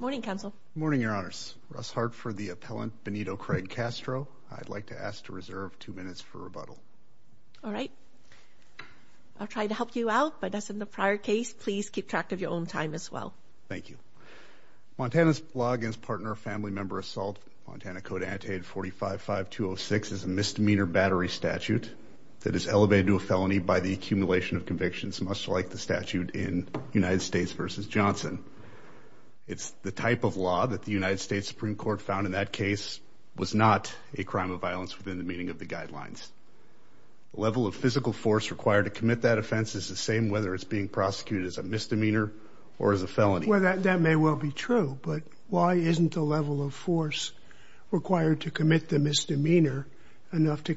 morning counsel morning your honors Russ Hartford the appellant Benito Craig Castro I'd like to ask to reserve two minutes for rebuttal all right I'll try to help you out but that's in the prior case please keep track of your own time as well thank you Montana's law against partner family member assault Montana code annotated 45 5206 is a misdemeanor battery statute that is elevated to the accumulation of convictions much like the statute in United States versus Johnson it's the type of law that the United States Supreme Court found in that case was not a crime of violence within the meaning of the guidelines level of physical force required to commit that offense is the same whether it's being prosecuted as a misdemeanor or as a felony whether that may well be true but why isn't the level of force required to commit the misdemeanor enough to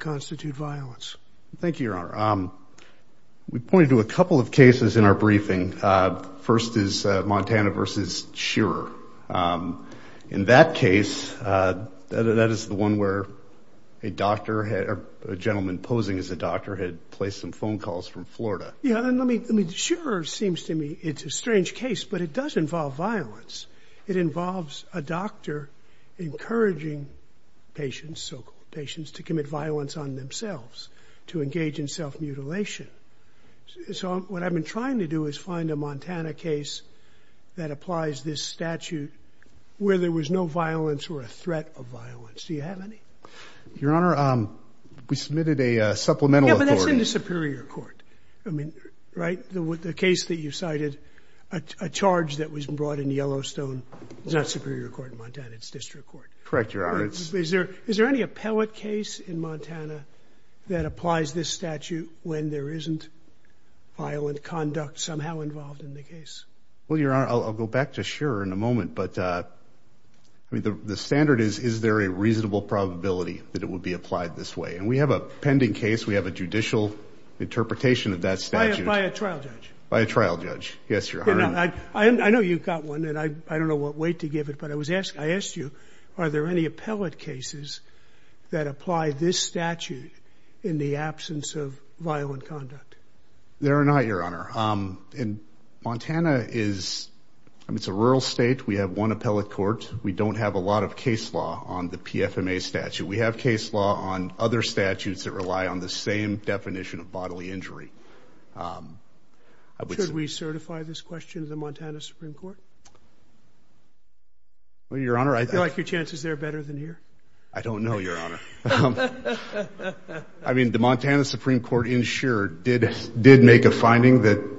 we pointed to a couple of cases in our briefing first is Montana versus sure in that case that is the one where a doctor had a gentleman posing as a doctor had placed some phone calls from Florida yeah I mean sure seems to me it's a strange case but it does involve violence it involves a doctor encouraging patients so-called patients to commit violence on themselves to so what I've been trying to do is find a Montana case that applies this statute where there was no violence or a threat of violence do you have any your honor we submitted a supplemental Superior Court I mean right the with the case that you cited a charge that was brought in Yellowstone it's not Superior Court in Montana it's district court correct your honor it's there is there any appellate case in Montana that applies this statute when there isn't violent conduct somehow involved in the case well your honor I'll go back to sure in a moment but I mean the standard is is there a reasonable probability that it would be applied this way and we have a pending case we have a judicial interpretation of that statute by a trial judge by a trial judge yes your honor I know you've got one and I don't know what weight to give it but I was asked I there any appellate cases that apply this statute in the absence of violent conduct there are not your honor in Montana is I mean it's a rural state we have one appellate court we don't have a lot of case law on the PFMA statute we have case law on other statutes that rely on the same definition of bodily injury should we certify this question of the Montana Supreme Court well your honor I like your chances they're better than here I don't know your honor I mean the Montana Supreme Court insured did did make a finding that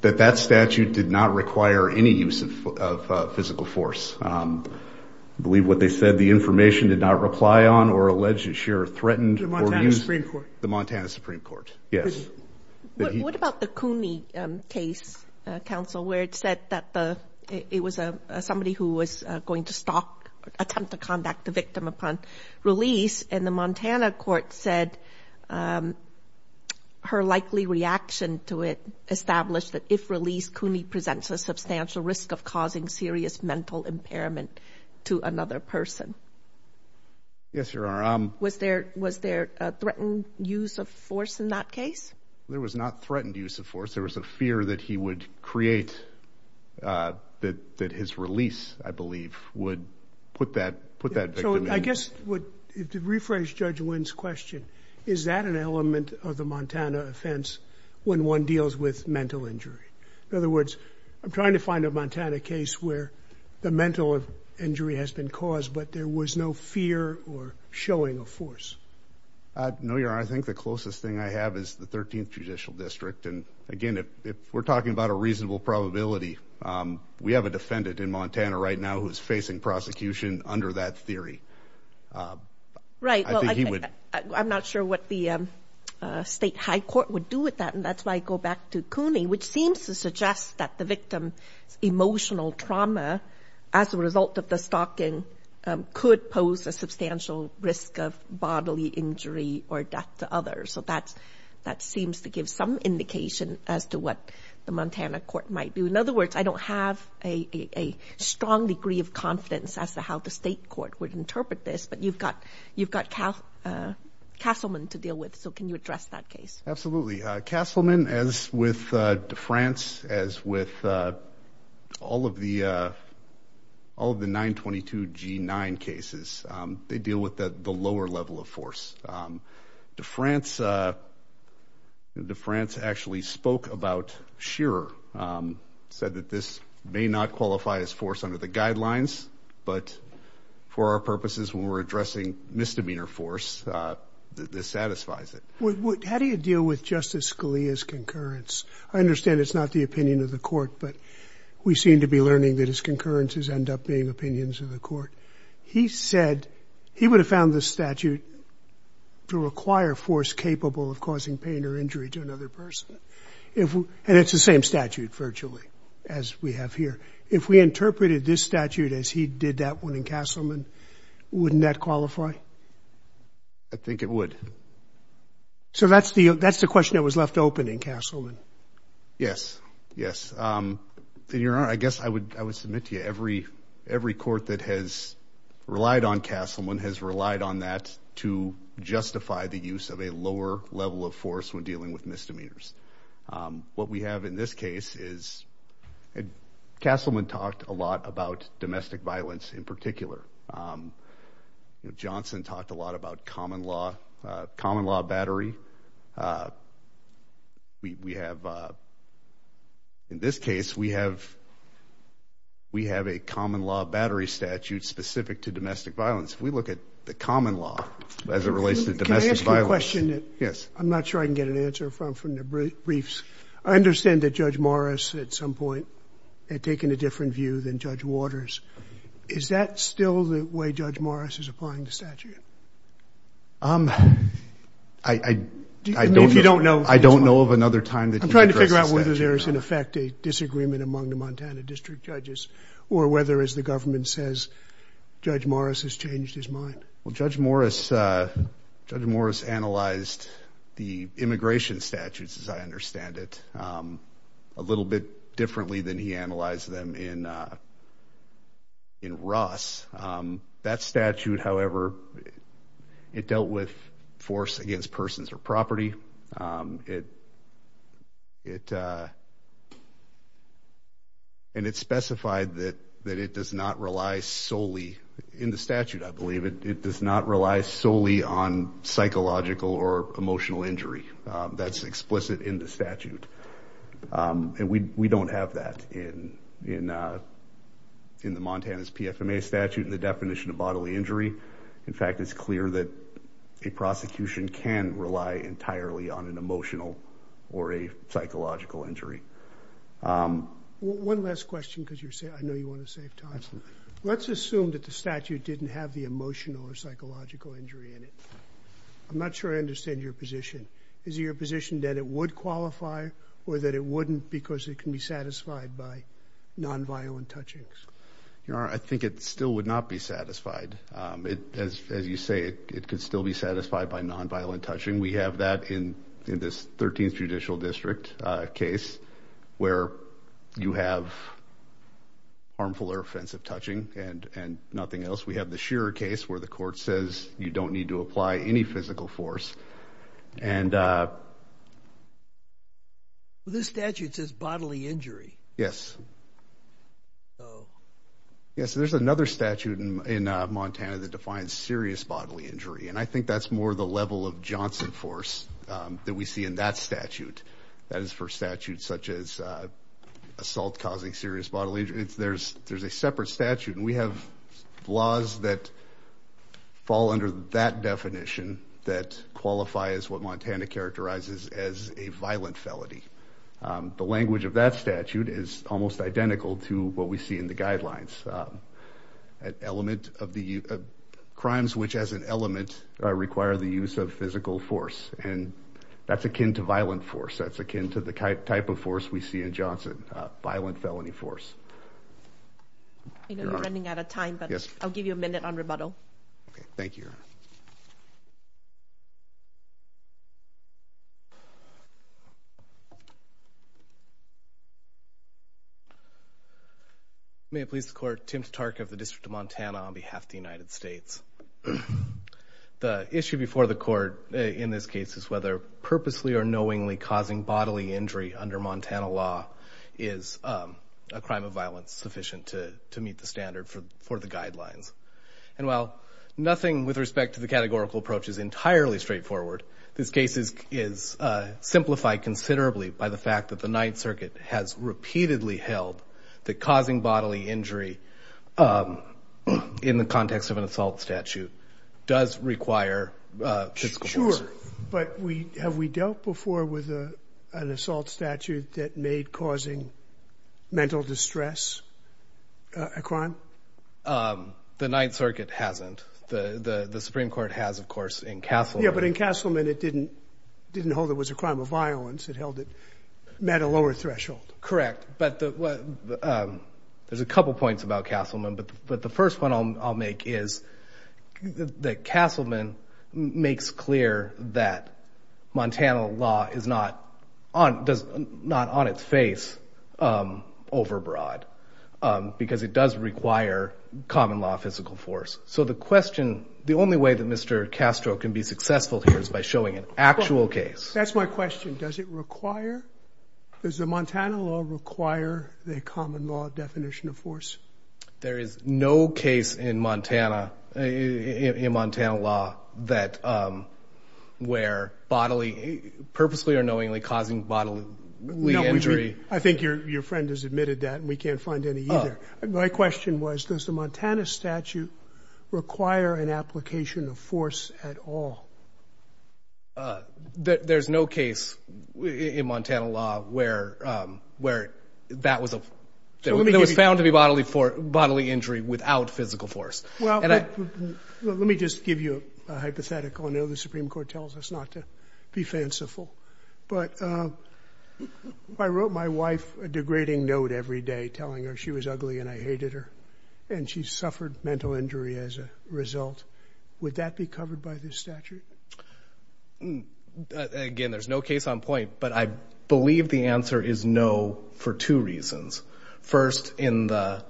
that that statute did not require any use of physical force I believe what they said the information did not reply on or alleged to share threatened the Montana Supreme Court the Montana Supreme Court yes what about the Cooney case counsel where it said that the it was a somebody who was going to stop attempt to conduct the victim upon release and the Montana court said her likely reaction to it established that if released Cooney presents a substantial risk of causing serious mental impairment to another person yes your honor was there was there a threatened use of force in that case there was not threatened use of force there was a fear that he would create that that his release I believe would put that put that I guess would rephrase judge wins question is that an element of the Montana offense when one deals with mental injury in other words I'm trying to find a Montana case where the mental of injury has been caused but there was no fear or showing a force no your I think the closest thing I have is the 13th Judicial District and again if we're talking about a reasonable probability we have a defendant in Montana right now who's facing prosecution under that theory right I'm not sure what the state high court would do with that and that's why I go back to Cooney which seems to suggest that the victim emotional trauma as a result of bodily injury or death to others so that's that seems to give some indication as to what the Montana court might do in other words I don't have a strong degree of confidence as to how the state court would interpret this but you've got you've got Cal Castleman to deal with so can you address that case absolutely Castleman as with France as with all of the all of the 922 g9 cases they deal with that the lower level of force to France the France actually spoke about sure said that this may not qualify as force under the guidelines but for our purposes when we're addressing misdemeanor force this satisfies it how do you deal with justice Scalia's concurrence I understand it's not the opinion of the court but we seem to be learning that his concurrences end up being he said he would have found this statute to require force capable of causing pain or injury to another person if and it's the same statute virtually as we have here if we interpreted this statute as he did that one in Castleman wouldn't that qualify I think it would so that's the that's the question that was left open in Castleman yes yes then your honor I guess I would I would submit to you every every court that has relied on Castleman has relied on that to justify the use of a lower level of force when dealing with misdemeanors what we have in this case is Castleman talked a lot about domestic violence in particular Johnson talked a lot about common law battery we have in this case we have we have a common law battery statute specific to domestic violence we look at the common law as it relates to domestic violence question yes I'm not sure I can get an answer from from the briefs I understand that judge Morris at some point had taken a different view than judge waters is that still the way judge Morris is applying the I don't you don't know I don't know of another time that I'm trying to figure out whether there is in effect a disagreement among the Montana district judges or whether as the government says judge Morris has changed his mind well judge Morris judge Morris analyzed the immigration statutes as I understand it a little bit differently than he analyzed them in in Ross that statute however it dealt with force against persons or property it it and it specified that that it does not rely solely in the statute I believe it does not rely solely on psychological or emotional injury that's explicit in the statute and we don't have that in in in the Montana's PFMA statute and definition of bodily injury in fact it's clear that a prosecution can rely entirely on an emotional or a psychological injury one last question because you're saying I know you want to save time let's assume that the statute didn't have the emotional or psychological injury in it I'm not sure I understand your position is your position that it would qualify or that it wouldn't because it can be satisfied by nonviolent touching you know I think it still would not be satisfied it as you say it could still be satisfied by nonviolent touching we have that in in this 13th Judicial District case where you have harmful or offensive touching and and nothing else we have the Shearer case where the court says you don't need to apply any physical force and this statute says bodily injury yes yes there's another statute in Montana that defines serious bodily injury and I think that's more the level of Johnson force that we see in that statute that is for statutes such as assault causing serious bodily injuries there's there's a separate statute and we have laws that fall under that definition that qualify as what Montana characterizes as a violent felony the language of that statute is almost identical to what we see in the guidelines an element of the crimes which as an element require the use of physical force and that's akin to violent force that's akin to the type of force we see in Johnson violent felony force yes I'll give you a minute on rebuttal thank you you may please the court Tim Tark of the District of Montana on behalf of the United States the issue before the court in this case is whether purposely or knowingly causing bodily injury under Montana law is a crime of violence sufficient to to meet the standard for the guidelines and well nothing with respect to the categorical approach is entirely straightforward this case is is simplified considerably by the fact that the Ninth Circuit has repeatedly held that causing bodily injury in the context of an assault statute does require physical but we have dealt before with a an assault statute that made causing mental distress a crime the Ninth Circuit hasn't the the Supreme Court has of course in Castle yeah but in Castleman it didn't didn't hold it was a crime of violence it held it met a lower threshold correct but there's a couple points about Castleman but but the first one I'll make is that Castleman makes clear that Montana law is not on does not on its face overbroad because it does require common law physical force so the question the only way that mr. Castro can be successful here is by showing an actual case that's my question does it require there's a Montana law require the common law there is no case in Montana in Montana law that where bodily purposely or knowingly causing bodily we injury I think your friend has admitted that we can't find any my question was does the Montana statute require an application of force at all that there's no case in Montana law where where that was a it was found to be bodily for bodily injury without physical force well and I let me just give you a hypothetical I know the Supreme Court tells us not to be fanciful but I wrote my wife a degrading note every day telling her she was ugly and I hated her and she suffered mental injury as a result would that be covered by this statute again there's no case on point but I two reasons first in the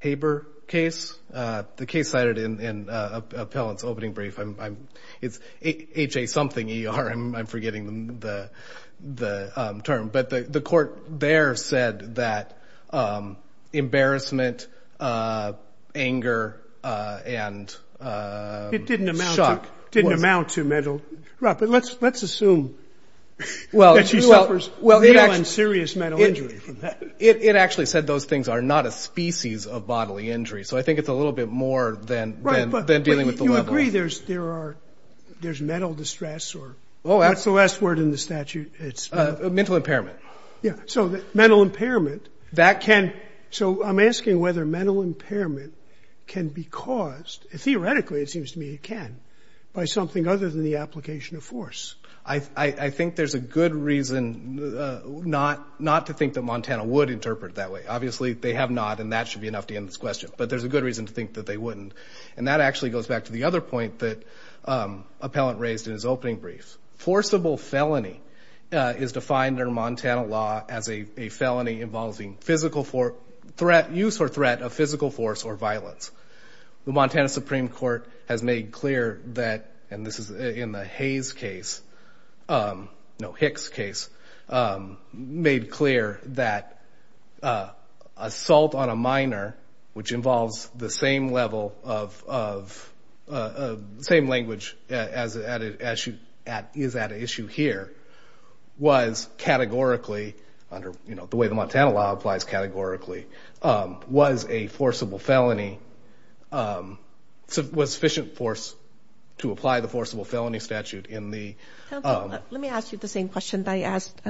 Haber case the case cited in an appellant's opening brief I'm it's ha something er I'm forgetting the the term but the the court there said that embarrassment anger and it didn't amount didn't amount to metal right but let's let's assume well that she suffers well they don't serious mental injury from that it actually said those things are not a species of bodily injury so I think it's a little bit more than then dealing with the way there's there are there's mental distress or oh that's the last word in the statute it's a mental impairment yeah so that mental impairment that can so I'm asking whether mental impairment can be caused theoretically it seems to me it can by something other than the application of force I I think there's a good reason not not to think that Montana would interpret that way obviously they have not and that should be enough to end this question but there's a good reason to think that they wouldn't and that actually goes back to the other point that appellant raised in his opening brief forcible felony is defined under Montana law as a felony involving physical for threat use or threat of physical force or violence the Montana Supreme Court has made clear that and this is in the Hayes case no Hicks case made clear that assault on a minor which involves the same level of same language as added as you at is that an issue here was categorically under you know the way the Montana law applies categorically was a forcible felony so it was sufficient force to apply the forcible felony statute in the let me ask you the same question I asked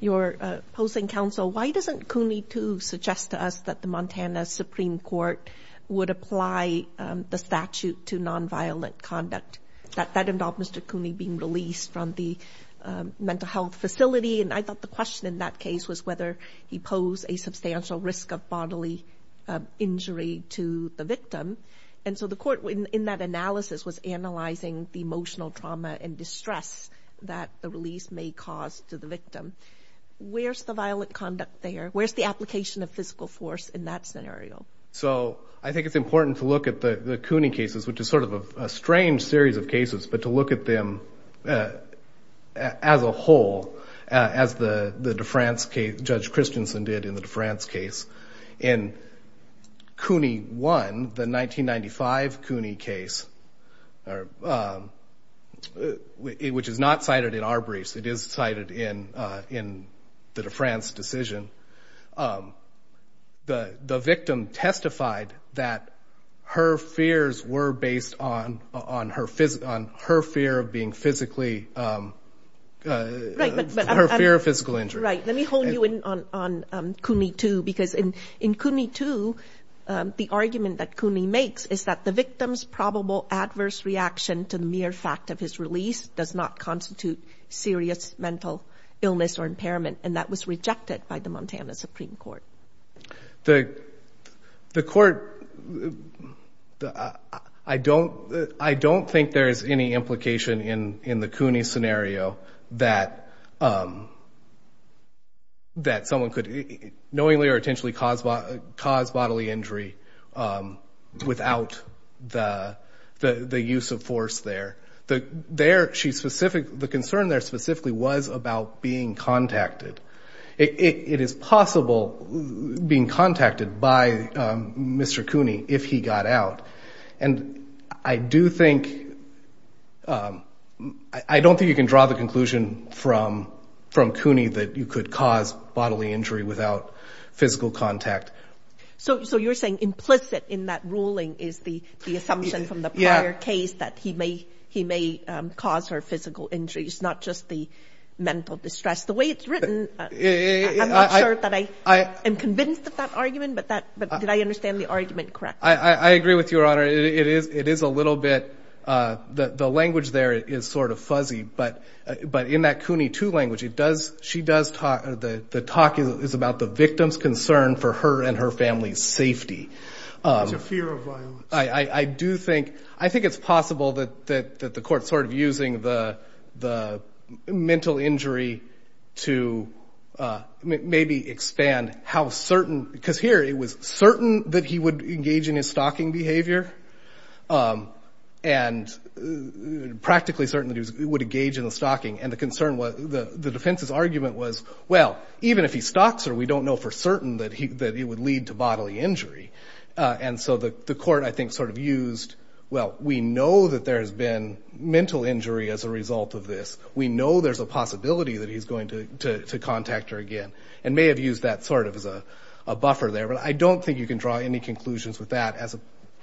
your opposing counsel why doesn't Cooney to suggest to us that the Montana Supreme Court would apply the statute to nonviolent conduct that that involved mr. Cooney being released from the mental health facility and I thought the question in that case was whether he posed a substantial risk of bodily injury to the victim and so the court in that analysis was analyzing the emotional trauma and where's the application of physical force in that scenario so I think it's important to look at the Cooney cases which is sort of a strange series of cases but to look at them as a whole as the the defense case judge Christensen did in the defense case in Cooney won the 1995 Cooney case which is not cited in our briefs it is cited in in that a France decision the the victim testified that her fears were based on on her fist on her fear of being physically her fear of physical injury right let me hold you in on Cooney to because in in Cooney to the argument that Cooney makes is the victim's probable adverse reaction to the mere fact of his release does not constitute serious mental illness or impairment and that was rejected by the Montana Supreme Court the the court I don't I don't think there's any implication in in the Cooney scenario that that someone could knowingly or intentionally caused by caused bodily injury without the the use of force there the there she specific the concern there specifically was about being contacted it is possible being contacted by mr. Cooney if he got out and I do think I don't think you can draw the conclusion from from Cooney that you could cause bodily injury without physical contact so so you're saying implicit in that ruling is the assumption from the prior case that he may he may cause her physical injuries not just the mental distress the way it's written I am convinced of that argument but that but did I understand the argument correct I I agree with your honor it is it is a little bit the language there is sort of fuzzy but but in that Cooney to language it does she does talk the talk is about the victim's concern for her and her family's safety I do think I think it's possible that that the court sort of using the the mental injury to maybe expand how certain because here it was certain that he would engage in his stalking behavior and practically certain that he would engage in the stalking and the concern was the the defense's argument was well even if he stocks her we don't know for certain that he that he would lead to bodily injury and so the the court I think sort of used well we know that there has been mental injury as a result of this we know there's a possibility that he's going to contact her again and may have used that sort of as a you can draw any conclusions with that as a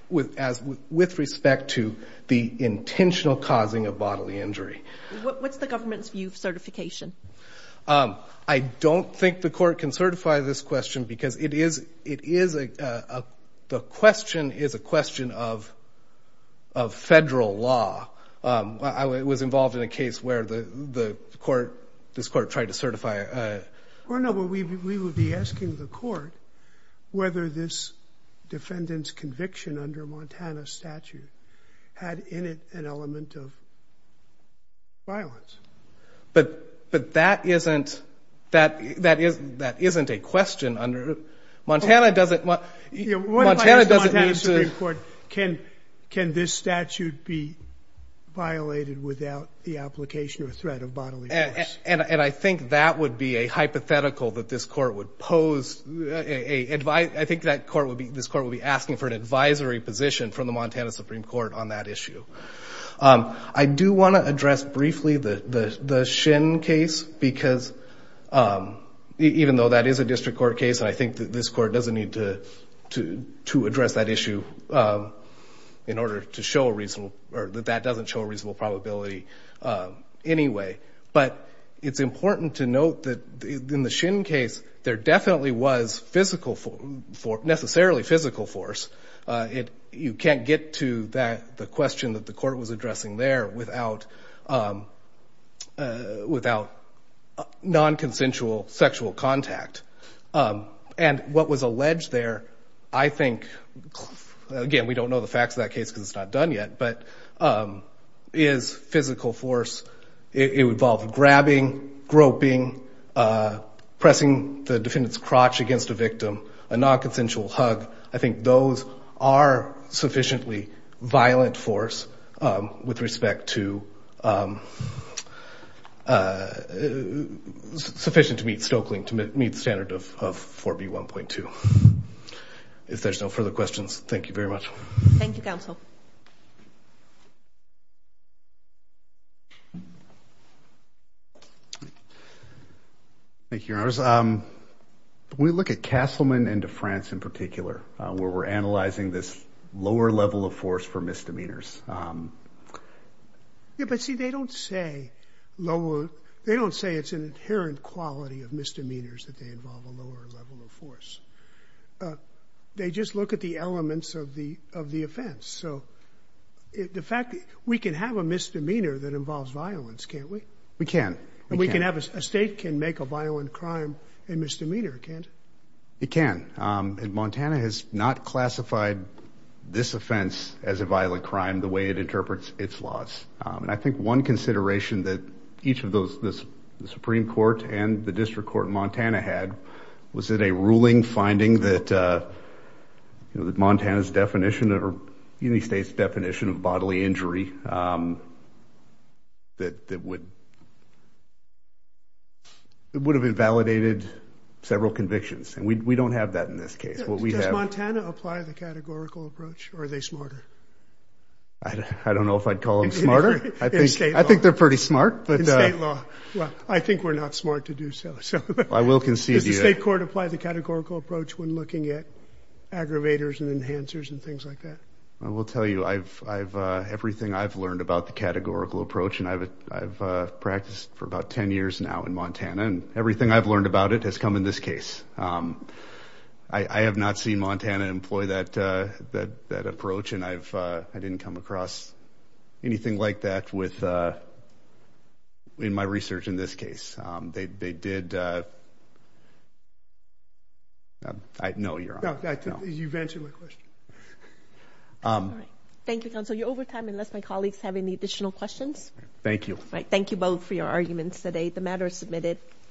with as with respect to the intentional causing a bodily injury what's the government's view of certification I don't think the court can certify this question because it is it is a the question is a question of federal law I was involved in a case where the court this court tried to certify or no but we will be asking the court whether this defendant's conviction under Montana statute had in it an element of violence but but that isn't that that is that isn't a question under Montana doesn't want to report can can this statute be violated without the application or threat of bodily and and I think that would be a hypothetical that this court would pose a advice I think that court would be this court will be asking for an advisory position from the Montana Supreme Court on that issue I do want to address briefly the the the shin case because even though that is a district court case and I think that this court doesn't need to to to address that issue in order to show a reason or that that doesn't show a reasonable probability anyway but it's important to note that in the shin case there definitely was physical for necessarily physical force it you can't get to that the question that the court was addressing there without without non-consensual sexual contact and what was alleged there I think again we don't know the facts of that case because it's not done yet but is physical force it would involve grabbing groping pressing the defendants crotch against a victim a non-consensual hug I think those are sufficiently violent force with respect to sufficient to meet Stokely to meet standard of 4b 1.2 if there's no further questions thank you very much thank you counsel thank you ours um we look at Castleman into France in particular where we're analyzing this lower level of force for misdemeanors yeah but see they don't say lower they don't say it's an inherent quality of misdemeanors that they involve a lower level of force they just look at the elements of the of the offense so the fact we can have a misdemeanor that involves violence can't we we can and we can have a state can make a violent crime and misdemeanor can't it can in Montana has not classified this offense as a violent crime the way it interprets its laws and I think one court and the district court in Montana had was it a ruling finding that you know that Montana's definition or any state's definition of bodily injury that that would it would have invalidated several convictions and we don't have that in this case or they smarter I don't know if I'd not smart to do so so I will concede the state court apply the categorical approach when looking at aggravators and enhancers and things like that I will tell you I've everything I've learned about the categorical approach and I've practiced for about ten years now in Montana and everything I've learned about it has come in this case I have not seen Montana employ that that approach and I've I didn't come across anything like that with in my research in this case they did I know you're not that you've answered my question thank you counsel you're over time unless my colleagues have any additional questions thank you right thank you both for your arguments today the matter is submitted